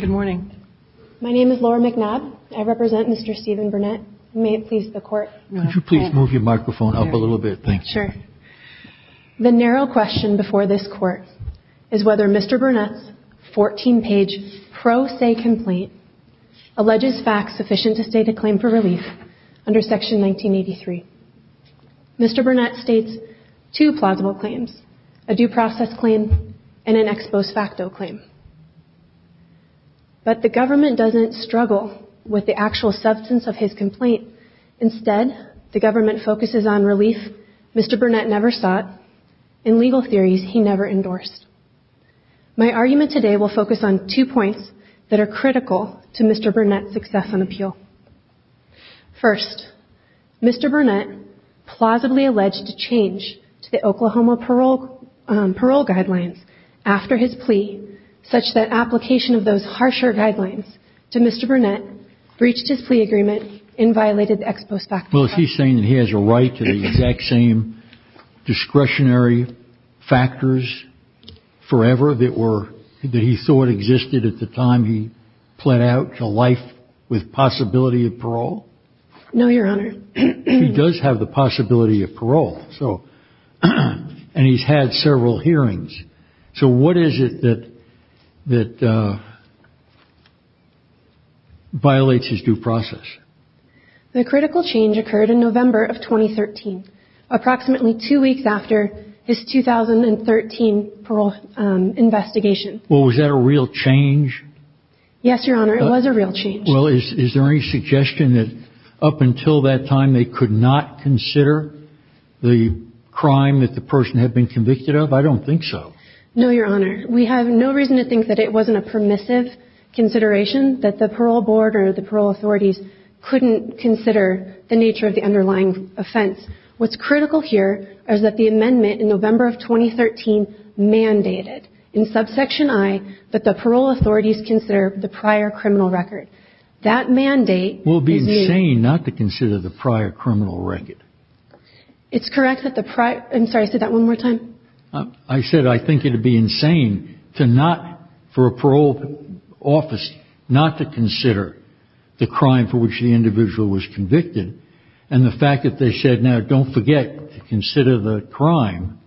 Good morning. My name is Laura McNabb. I represent Mr. Stephen Burnett. May it please the court. Could you please move your microphone up a little bit? Sure. The narrow question before this court is whether Mr. Burnett's 14-page pro se complaint alleges facts sufficient to state a claim for relief under section 1983. Mr. Burnett states two plausible claims, a due process claim and an ex post facto claim. But the government doesn't struggle with the actual substance of his complaint. Instead, the government focuses on relief Mr. Burnett never sought and legal theories he never endorsed. My argument today will focus on two points that are critical to Mr. Burnett's success on appeal. First, Mr. Burnett plausibly alleged a change to the Oklahoma parole guidelines after his plea such that application of those harsher guidelines to Mr. Burnett breached his plea agreement and violated the ex post facto. Well, is he saying that he has a right to the exact same discretionary factors forever that were that he thought existed at the time he pled out to life with possibility of parole? No, Your Honor. He does have the possibility of parole. So and he's had several hearings. So what is it that that violates his due process? The critical change occurred in November of 2013, approximately two weeks after his 2013 parole investigation. Well, was that a real change? Yes, Your Honor. It was a real change. Well, is there any suggestion that up until that time they could not consider the crime that the person had been convicted of? I don't think so. No, Your Honor. We have no reason to think that it wasn't a permissive consideration that the parole board or the parole authorities couldn't consider the nature of the underlying offense. What's critical here is that the amendment in November of 2013 mandated in subsection I that the parole authorities consider the prior criminal record. That mandate... Well, it would be insane not to consider the prior criminal record. It's correct that the prior... I'm sorry, say that one more time. I said I think it would be insane to not, for a parole office, not to consider the crime for which the individual was convicted. And the fact that they said, now, don't forget to consider the crime,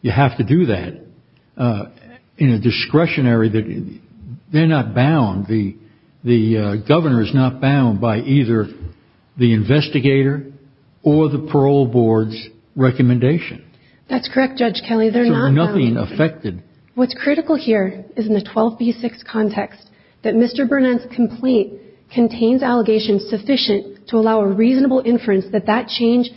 you have to do that, in a discretionary... they're not bound. The governor is not bound by either the investigator or the parole board's recommendation. That's correct, Judge Kelly. They're not bound. So nothing affected... What's critical here is in the 12B6 context that Mr. Burnett's complaint contains allegations sufficient to allow a reasonable inference that that change,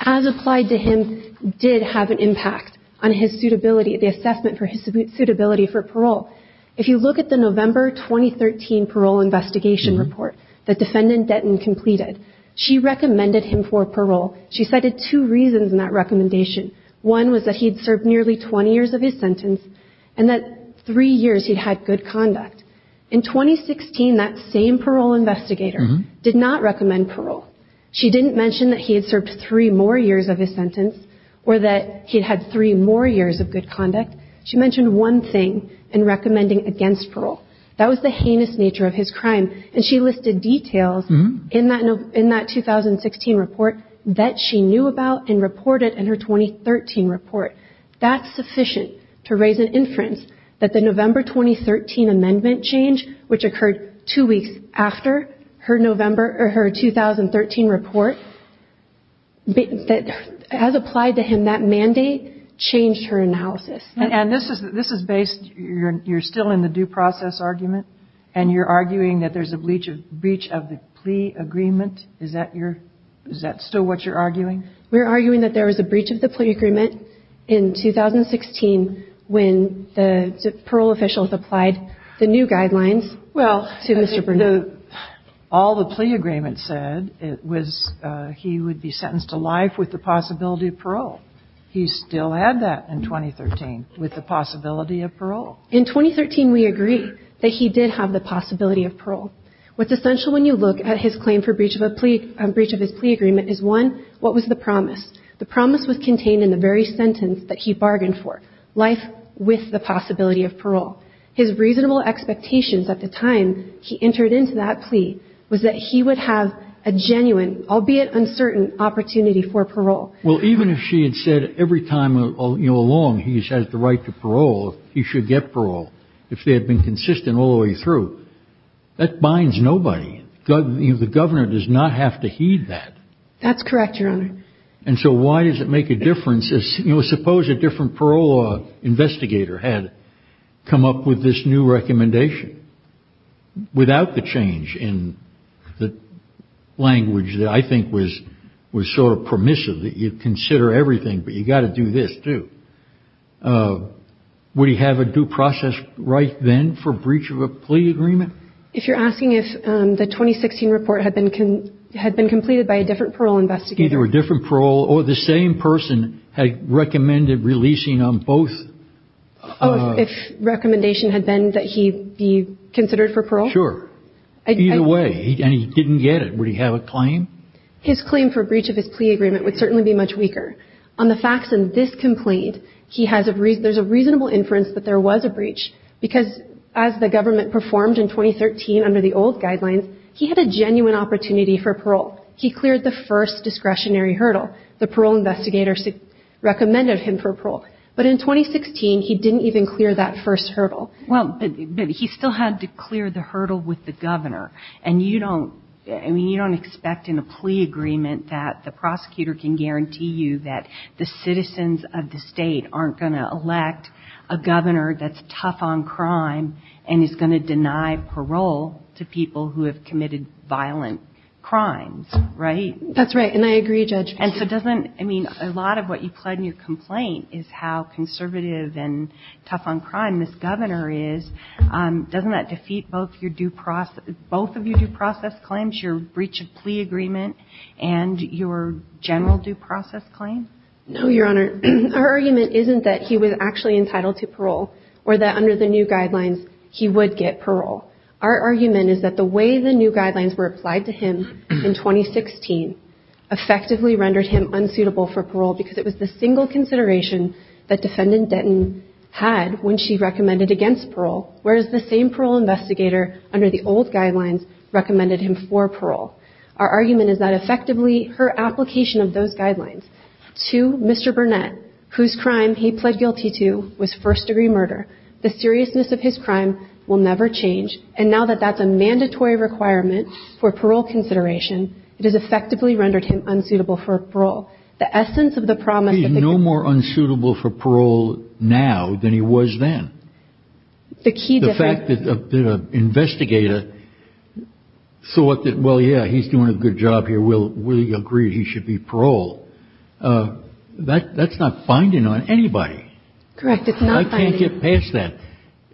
as applied to him, did have an impact on his suitability, the assessment for his suitability for parole. If you look at the November 2013 parole investigation report that Defendant Denton completed, she recommended him for parole. She cited two reasons in that recommendation. One was that he'd served nearly 20 years of his sentence and that three years he'd had good conduct. In 2016, that same parole investigator did not recommend parole. She didn't mention that he had served three more years of his sentence or that he'd had three more years of good conduct. She mentioned one thing in recommending against parole. That was the heinous nature of his crime. And she listed details in that 2016 report that she knew about and reported in her 2013 report. That's sufficient to raise an inference that the November 2013 amendment change, which occurred two weeks after her 2013 report, as applied to him, that mandate changed her analysis. And this is based, you're still in the due process argument, and you're arguing that there's a breach of the plea agreement. Is that your, is that still what you're arguing? We're arguing that there was a breach of the plea agreement in 2016 when the parole officials applied the new guidelines to Mr. Burnett. All the plea agreement said was he would be sentenced to life with the possibility of parole. He still had that in 2013 with the possibility of parole. In 2013, we agree that he did have the possibility of parole. What's essential when you look at his claim for breach of a plea, breach of his plea agreement is, one, what was the promise? The promise was contained in the very sentence that he bargained for, life with the possibility of parole. His reasonable expectations at the time he entered into that plea was that he would have a genuine, albeit uncertain, opportunity for parole. Well, even if she had said every time along he has the right to parole, he should get parole, if they had been consistent all the way through, that binds nobody. The governor does not have to heed that. That's correct, Your Honor. And so why does it make a difference? Suppose a different parole investigator had come up with this new recommendation without the change in the language that I think was sort of permissive, that you consider everything but you've got to do this too. Would he have a due process right then for breach of a plea agreement? If you're asking if the 2016 report had been completed by a different parole investigator. Either a different parole or the same person had recommended releasing on both. Oh, if recommendation had been that he be considered for parole? Sure. Either way. And he didn't get it. Would he have a claim? His claim for breach of his plea agreement would certainly be much weaker. On the facts in this complaint, there's a reasonable inference that there was a breach. Because as the government performed in 2013 under the old guidelines, he had a genuine opportunity for parole. He cleared the first discretionary hurdle. The parole investigator recommended him for parole. But in 2016, he didn't even clear that first hurdle. Well, but he still had to clear the hurdle with the governor. And you don't, I mean, you don't expect in a plea agreement that the prosecutor can guarantee you that the citizens of the state aren't going to elect a governor that's tough on crime and is going to deny parole to people who have committed violent crimes, right? That's right. And I agree, Judge. And so doesn't, I mean, a lot of what you plug in your complaint is how conservative and tough on crime this governor is. Doesn't that defeat both your due process, both of your due process claims, your breach of plea agreement, and your general due process claim? No, Your Honor. Our argument isn't that he was actually entitled to parole or that under the new guidelines he would get parole. Our argument is that the way the new guidelines were applied to him in 2016 effectively rendered him unsuitable for parole because it was the single consideration that defendant Denton had when she recommended against parole, whereas the same parole investigator under the old guidelines recommended him for parole. Our argument is that effectively her application of those guidelines to Mr. Burnett, whose crime he pled guilty to, was first degree murder. The seriousness of his crime will never change. And now that that's a mandatory requirement for parole consideration, it has effectively rendered him unsuitable for parole. The essence of the promise. He's no more unsuitable for parole now than he was then. The key difference. The fact that the investigator thought that, well, yeah, he's doing a good job here. We'll agree he should be paroled. That's not binding on anybody. Correct. I can't get past that.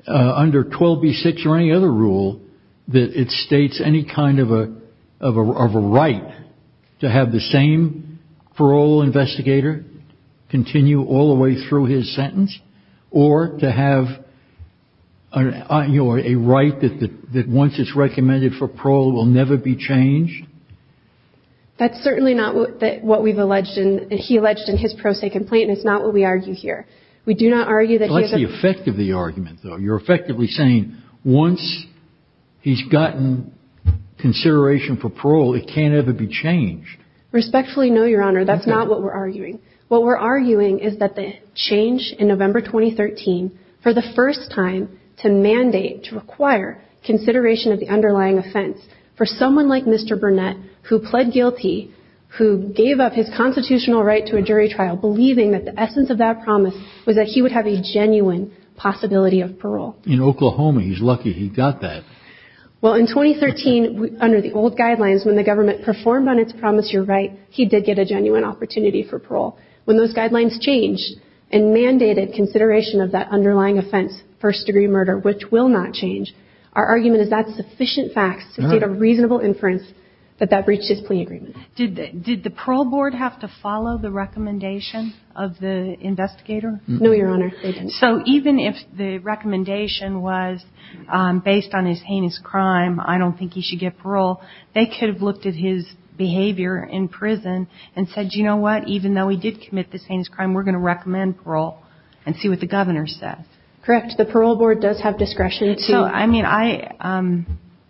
Under 12B6 or any other rule that it states any kind of a right to have the same parole investigator continue all the way through his sentence or to have a right that once it's recommended for parole will never be changed. That's certainly not what we've alleged. He alleged in his pro se complaint. It's not what we argue here. We do not argue that. That's the effect of the argument, though. You're effectively saying once he's gotten consideration for parole, it can't ever be changed. Respectfully, no, Your Honor. That's not what we're arguing. What we're arguing is that the change in November 2013 for the first time to mandate, to require consideration of the underlying offense for someone like Mr. Burnett, who pled guilty, who gave up his constitutional right to a jury trial, believing that the essence of that promise was that he would have a genuine possibility of parole. In Oklahoma, he's lucky he got that. Well, in 2013, under the old guidelines, when the government performed on its promise, you're right, he did get a genuine opportunity for parole. When those guidelines changed and mandated consideration of that underlying offense, first-degree murder, which will not change, our argument is that sufficient facts to state a reasonable inference that that breached his plea agreement. Did the parole board have to follow the recommendation of the investigator? No, Your Honor, they didn't. So even if the recommendation was based on his heinous crime, I don't think he should get parole, they could have looked at his behavior in prison and said, you know what? Even though he did commit this heinous crime, we're going to recommend parole and see what the governor says. Correct. The parole board does have discretion to.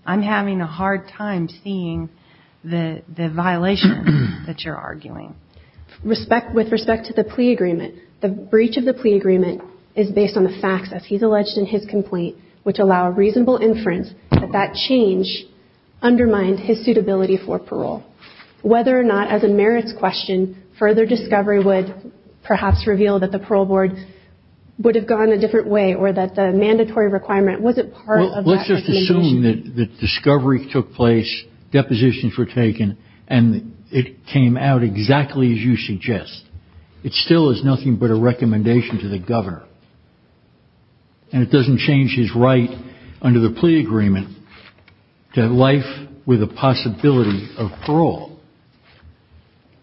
I'm having a hard time seeing the violation that you're arguing. With respect to the plea agreement, the breach of the plea agreement is based on the facts, as he's alleged in his complaint, which allow a reasonable inference that that change undermined his suitability for parole. Whether or not, as a merits question, further discovery would perhaps reveal that the parole board would have gone a different way or that the mandatory requirement wasn't part of that recommendation. Let's just assume that the discovery took place, depositions were taken, and it came out exactly as you suggest. It still is nothing but a recommendation to the governor. And it doesn't change his right under the plea agreement to life with a possibility of parole.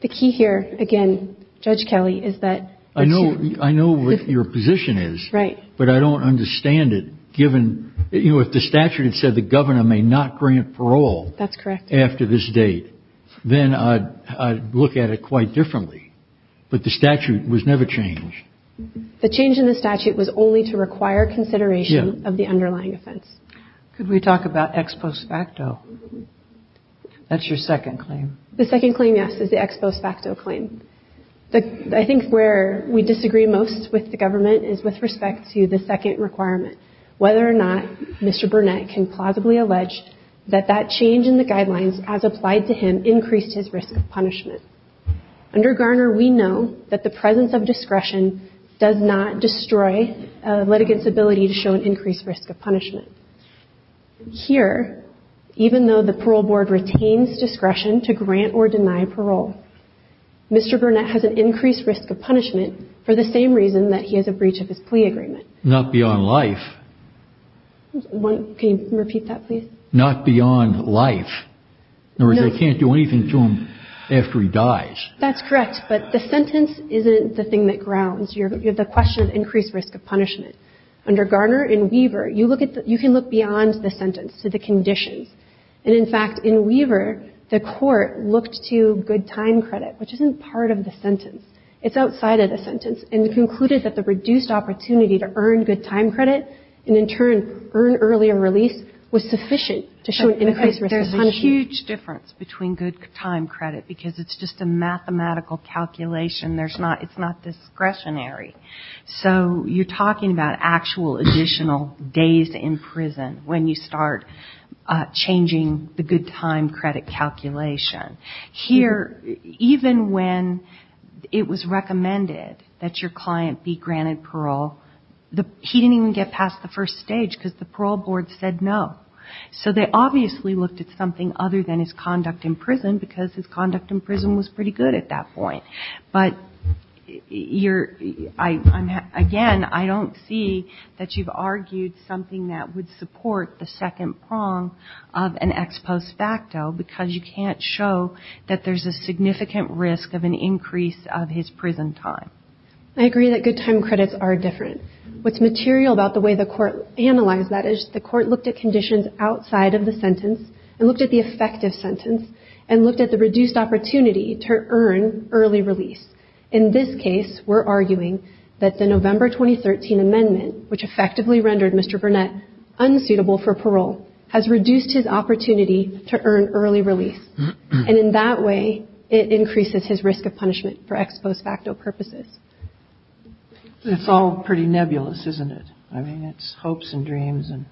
The key here, again, Judge Kelly, is that. I know I know what your position is. Right. But I don't understand it, given, you know, if the statute had said the governor may not grant parole. That's correct. After this date, then I'd look at it quite differently. But the statute was never changed. The change in the statute was only to require consideration of the underlying offense. Could we talk about ex post facto? That's your second claim. The second claim, yes, is the ex post facto claim. I think where we disagree most with the government is with respect to the second requirement, whether or not Mr. Burnett can plausibly allege that that change in the guidelines, as applied to him, increased his risk of punishment. Under Garner, we know that the presence of discretion does not destroy a litigant's ability to show an increased risk of punishment. Here, even though the parole board retains discretion to grant or deny parole, Mr. Burnett has an increased risk of punishment for the same reason that he has a breach of his plea agreement. Not beyond life. Can you repeat that, please? Not beyond life. In other words, I can't do anything to him after he dies. That's correct. But the sentence isn't the thing that grounds. You have the question of increased risk of punishment. Under Garner and Weaver, you can look beyond the sentence to the conditions. And, in fact, in Weaver, the court looked to good time credit, which isn't part of the sentence. It's outside of the sentence. And it concluded that the reduced opportunity to earn good time credit and, in turn, earn earlier release was sufficient to show an increased risk of punishment. Okay. There's a huge difference between good time credit, because it's just a mathematical calculation. There's not – it's not discretionary. So you're talking about actual additional days in prison when you start changing the good time credit calculation. Here, even when it was recommended that your client be granted parole, he didn't even get past the first stage, because the parole board said no. So they obviously looked at something other than his conduct in prison, because his conduct in prison was pretty good at that point. But you're – again, I don't see that you've argued something that would support the second prong of an ex post facto, because you can't show that there's a significant risk of an increase of his prison time. I agree that good time credits are different. What's material about the way the court analyzed that is the court looked at conditions outside of the sentence and looked at the effective sentence and looked at the reduced opportunity to earn early release. In this case, we're arguing that the November 2013 amendment, which effectively rendered Mr. Burnett unsuitable for parole, has reduced his opportunity to earn early release. And in that way, it increases his risk of punishment for ex post facto purposes. It's all pretty nebulous, isn't it? I mean, it's hopes and dreams and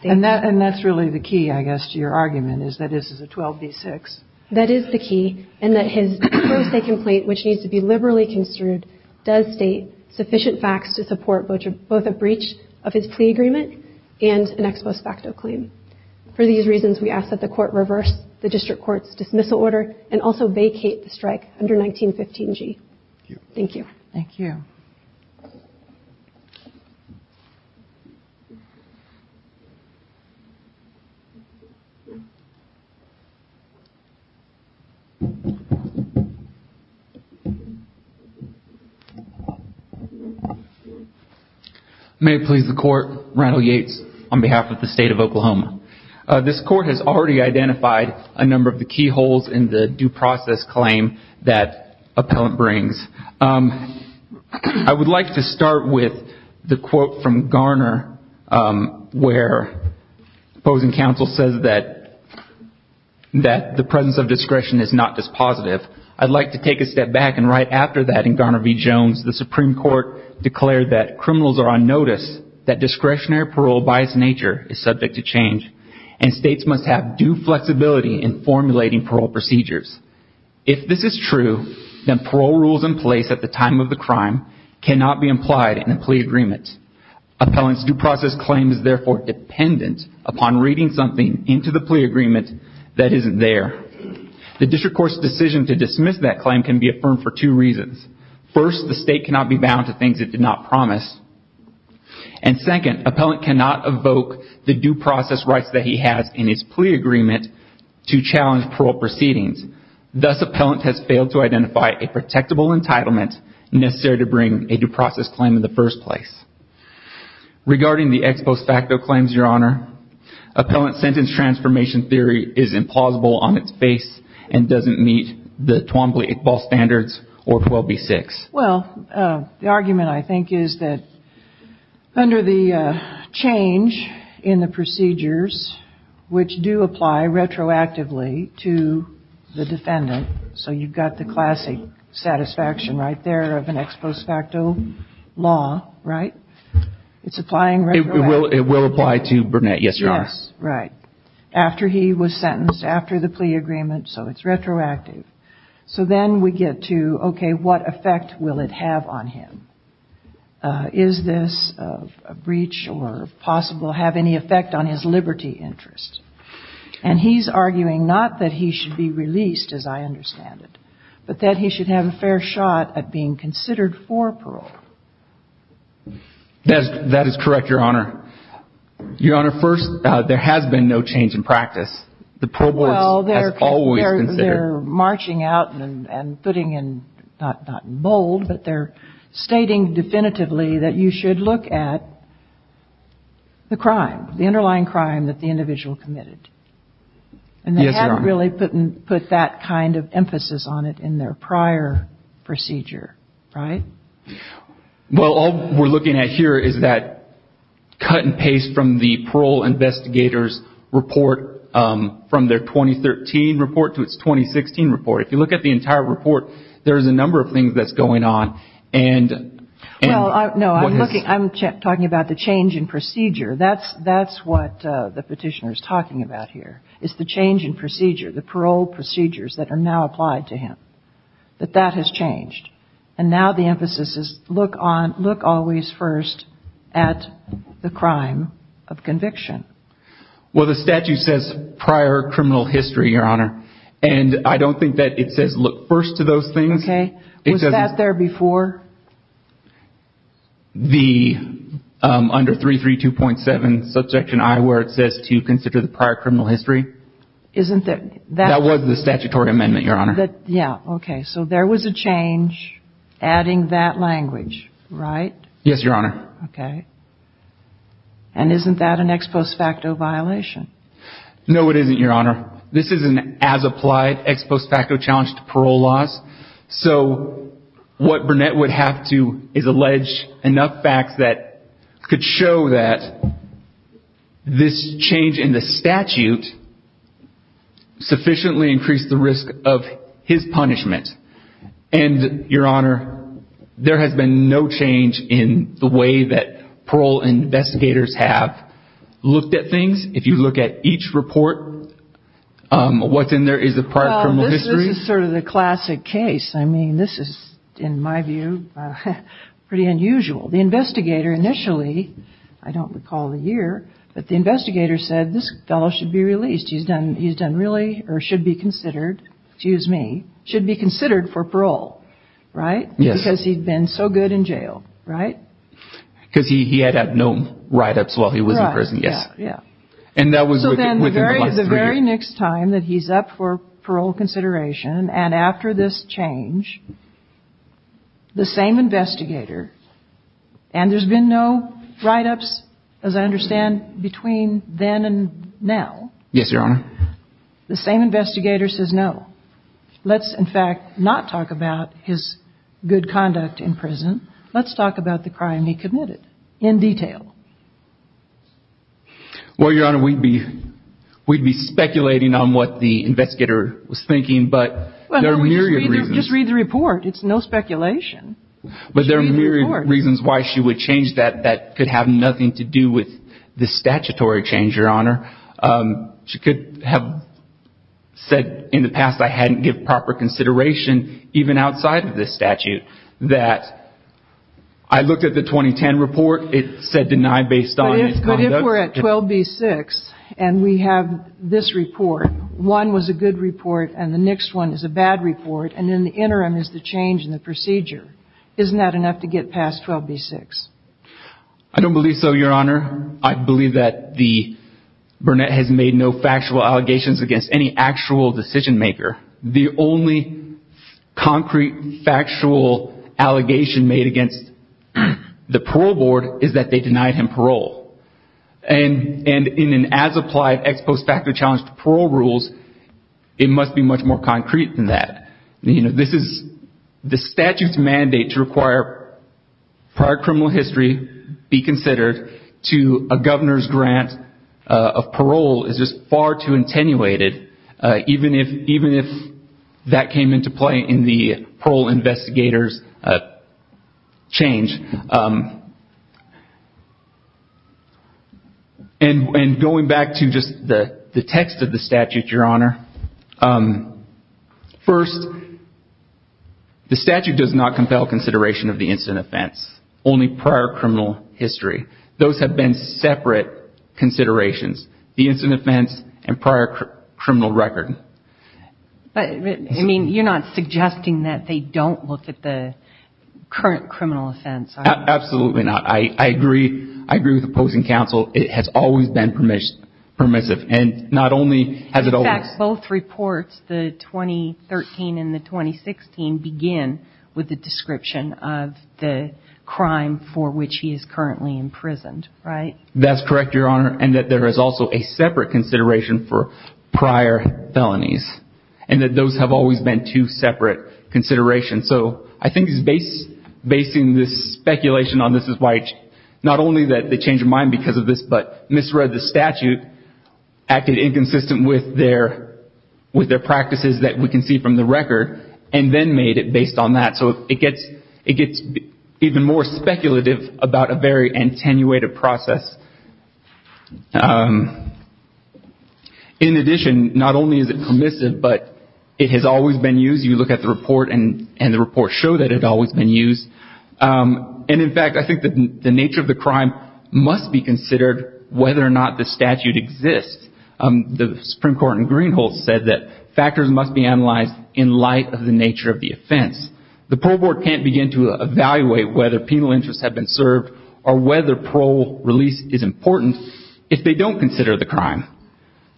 – And that's really the key, I guess, to your argument, is that this is a 12B6. That is the key, and that his pro se complaint, which needs to be liberally construed, does state sufficient facts to support both a breach of his plea agreement and an ex post facto claim. For these reasons, we ask that the court reverse the district court's dismissal order and also vacate the strike under 1915G. Thank you. Thank you. Thank you. May it please the court, Randall Yates on behalf of the state of Oklahoma. This court has already identified a number of the key holes in the due process claim that appellant brings. I would like to start with the quote from Garner where opposing counsel says that the presence of discretion is not dispositive. I'd like to take a step back and write after that in Garner v. Jones. The Supreme Court declared that criminals are on notice, that discretionary parole by its nature is subject to change, and states must have due flexibility in formulating parole procedures. If this is true, then parole rules in place at the time of the crime cannot be implied in a plea agreement. Appellant's due process claim is therefore dependent upon reading something into the plea agreement that isn't there. The district court's decision to dismiss that claim can be affirmed for two reasons. First, the state cannot be bound to things it did not promise. And second, appellant cannot evoke the due process rights that he has in his plea agreement to challenge parole proceedings. Thus, appellant has failed to identify a protectable entitlement necessary to bring a due process claim in the first place. Regarding the ex post facto claims, Your Honor, appellant sentence transformation theory is implausible on its face and doesn't meet the Twombly-Iqbal standards or 12b-6. Well, the argument, I think, is that under the change in the procedures which do apply retroactively to the defendant, so you've got the classic satisfaction right there of an ex post facto law, right? It's applying retroactively. It will apply to Burnett, yes, Your Honor. Yes, right. After he was sentenced, after the plea agreement, so it's retroactive. So then we get to, okay, what effect will it have on him? Is this a breach or possible have any effect on his liberty interest? And he's arguing not that he should be released, as I understand it, but that he should have a fair shot at being considered for parole. That is correct, Your Honor. Your Honor, first, there has been no change in practice. Well, they're marching out and putting in, not in bold, but they're stating definitively that you should look at the crime, the underlying crime that the individual committed. Yes, Your Honor. And they haven't really put that kind of emphasis on it in their prior procedure, right? Well, all we're looking at here is that cut and paste from the parole investigator's report, from their 2013 report to its 2016 report. If you look at the entire report, there's a number of things that's going on. Well, no, I'm talking about the change in procedure. That's what the petitioner is talking about here, is the change in procedure, the parole procedures that are now applied to him, that that has changed. And now the emphasis is look always first at the crime of conviction. Well, the statute says prior criminal history, Your Honor, and I don't think that it says look first to those things. Okay. Was that there before? The, under 332.7, Subjection I, where it says to consider the prior criminal history. Isn't there? That was the statutory amendment, Your Honor. Yeah, okay. So there was a change adding that language, right? Yes, Your Honor. Okay. And isn't that an ex post facto violation? No, it isn't, Your Honor. This is an as-applied ex post facto challenge to parole laws. So what Burnett would have to is allege enough facts that could show that this change in the statute sufficiently increased the risk of his punishment. And, Your Honor, there has been no change in the way that parole investigators have looked at things. If you look at each report, what's in there is the prior criminal history. This is sort of the classic case. I mean, this is, in my view, pretty unusual. The investigator initially, I don't recall the year, but the investigator said this fellow should be released. He's done really or should be considered, excuse me, should be considered for parole, right? Yes. Because he'd been so good in jail, right? Because he had no write-ups while he was in prison, yes. And that was within the last three years. So then the very next time that he's up for parole consideration and after this change, the same investigator, and there's been no write-ups, as I understand, between then and now. Yes, Your Honor. The same investigator says no. Let's, in fact, not talk about his good conduct in prison. Let's talk about the crime he committed in detail. Well, Your Honor, we'd be speculating on what the investigator was thinking, but there are myriad reasons. Just read the report. It's no speculation. But there are myriad reasons why she would change that. That could have nothing to do with the statutory change, Your Honor. She could have said in the past I hadn't given proper consideration, even outside of this statute, that I looked at the 2010 report. It said denied based on his conduct. But if we're at 12B-6 and we have this report, one was a good report and the next one is a bad report, and then the interim is the change in the procedure, isn't that enough to get past 12B-6? I don't believe so, Your Honor. Your Honor, I believe that Burnett has made no factual allegations against any actual decision maker. The only concrete factual allegation made against the parole board is that they denied him parole. And in an as-applied ex post facto challenge to parole rules, it must be much more concrete than that. The statute's mandate to require prior criminal history be considered to a governor's grant of parole is just far too attenuated, even if that came into play in the parole investigator's change. And going back to just the text of the statute, Your Honor, first, the statute does not compel consideration of the incident offense, only prior criminal history. Those have been separate considerations, the incident offense and prior criminal record. But, I mean, you're not suggesting that they don't look at the current criminal offense, are you? Absolutely not. I agree with opposing counsel. It has always been permissive. And not only has it always... In fact, both reports, the 2013 and the 2016, begin with a description of the crime for which he is currently imprisoned, right? That's correct, Your Honor. And that there is also a separate consideration for prior felonies. And that those have always been two separate considerations. So I think basing this speculation on this is why not only did they change their mind because of this, but misread the statute, acted inconsistent with their practices that we can see from the record, and then made it based on that. So it gets even more speculative about a very attenuated process. In addition, not only is it permissive, but it has always been used. You look at the report, and the reports show that it has always been used. And, in fact, I think that the nature of the crime must be considered whether or not the statute exists. The Supreme Court in Greenhall said that factors must be analyzed in light of the nature of the offense. The parole board can't begin to evaluate whether penal interests have been served, or whether parole release is important, if they don't consider the crime.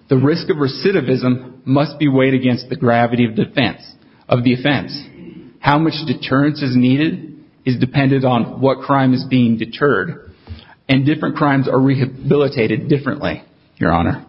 The risk of recidivism must be weighed against the gravity of defense, of the offense. How much deterrence is needed is dependent on what crime is being deterred. And different crimes are rehabilitated differently, Your Honor.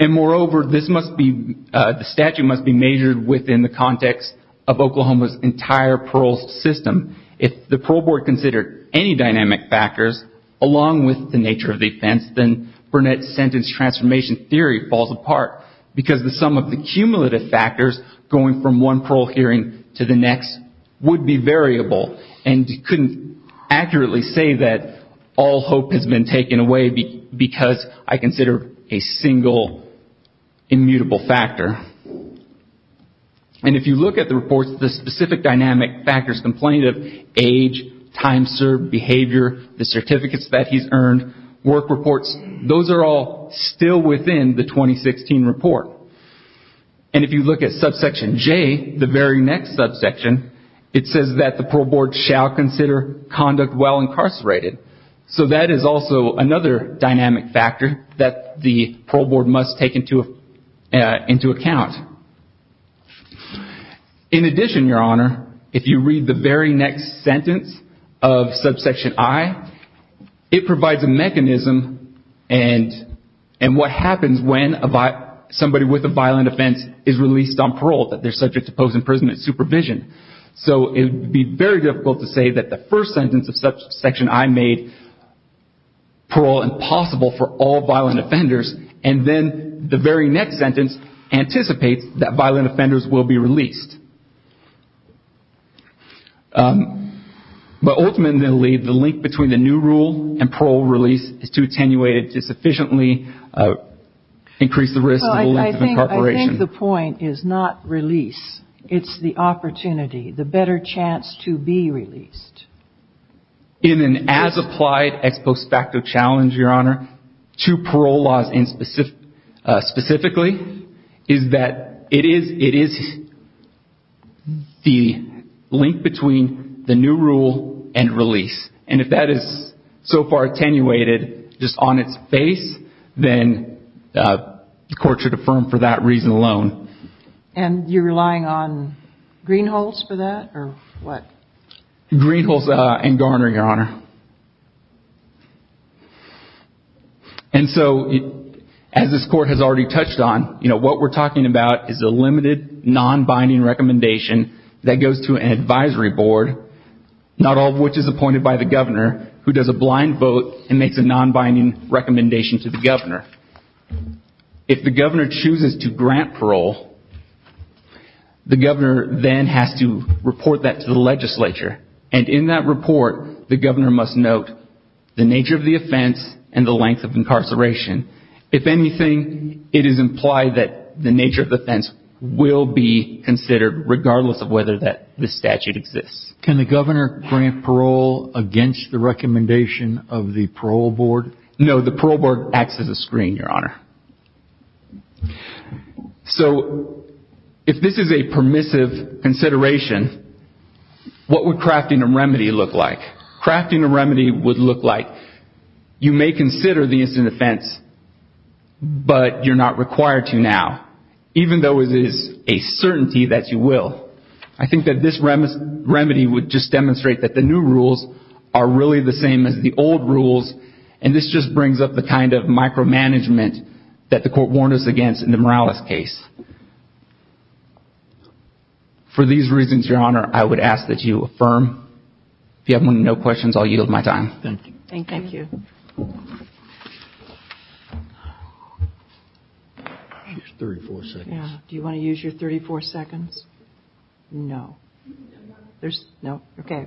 And, moreover, the statute must be measured within the context of Oklahoma's entire parole system. If the parole board considered any dynamic factors, along with the nature of the offense, then Burnett's sentence transformation theory falls apart because the sum of the cumulative factors going from one parole hearing to the next would be variable. And he couldn't accurately say that all hope has been taken away because I consider a single immutable factor. And if you look at the reports, the specific dynamic factors complaining of age, time served, behavior, the certificates that he's earned, work reports, those are all still within the 2016 report. And if you look at subsection J, the very next subsection, it says that the parole board shall consider conduct while incarcerated. So that is also another dynamic factor that the parole board must take into account. In addition, Your Honor, if you read the very next sentence of subsection I, it provides a mechanism and what happens when somebody with a violent offense is released on parole, that they're subject to post-imprisonment supervision. So it would be very difficult to say that the first sentence of subsection I made, parole impossible for all violent offenders, and then the very next sentence anticipates that violent offenders will be released. But ultimately, the link between the new rule and parole release is to attenuate it, to sufficiently increase the risk of length of incarceration. Well, I think the point is not release. It's the opportunity, the better chance to be released. In an as-applied ex post facto challenge, Your Honor, to parole laws specifically is that it is the link between the new rule and release. And if that is so far attenuated just on its face, then the court should affirm for that reason alone. And you're relying on green holes for that or what? And so, as this court has already touched on, what we're talking about is a limited non-binding recommendation that goes to an advisory board, not all of which is appointed by the governor, who does a blind vote and makes a non-binding recommendation to the governor. If the governor chooses to grant parole, the governor then has to report that to the legislature. And in that report, the governor must note the nature of the offense and the length of incarceration. If anything, it is implied that the nature of the offense will be considered, regardless of whether the statute exists. Can the governor grant parole against the recommendation of the parole board? No, the parole board acts as a screen, Your Honor. So, if this is a permissive consideration, what would crafting a remedy look like? Crafting a remedy would look like you may consider the instant offense, but you're not required to now, even though it is a certainty that you will. I think that this remedy would just demonstrate that the new rules are really the same as the old rules, and this just brings up the kind of micromanagement that the court warned us against in the Morales case. For these reasons, Your Honor, I would ask that you affirm. If you have no questions, I'll yield my time. Thank you. Thank you. I'll use 34 seconds. Do you want to use your 34 seconds? No. No. Okay.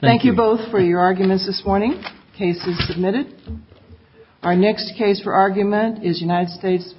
Thank you both for your arguments this morning. The case is submitted. Our next case for argument is United States v. Ejiofor.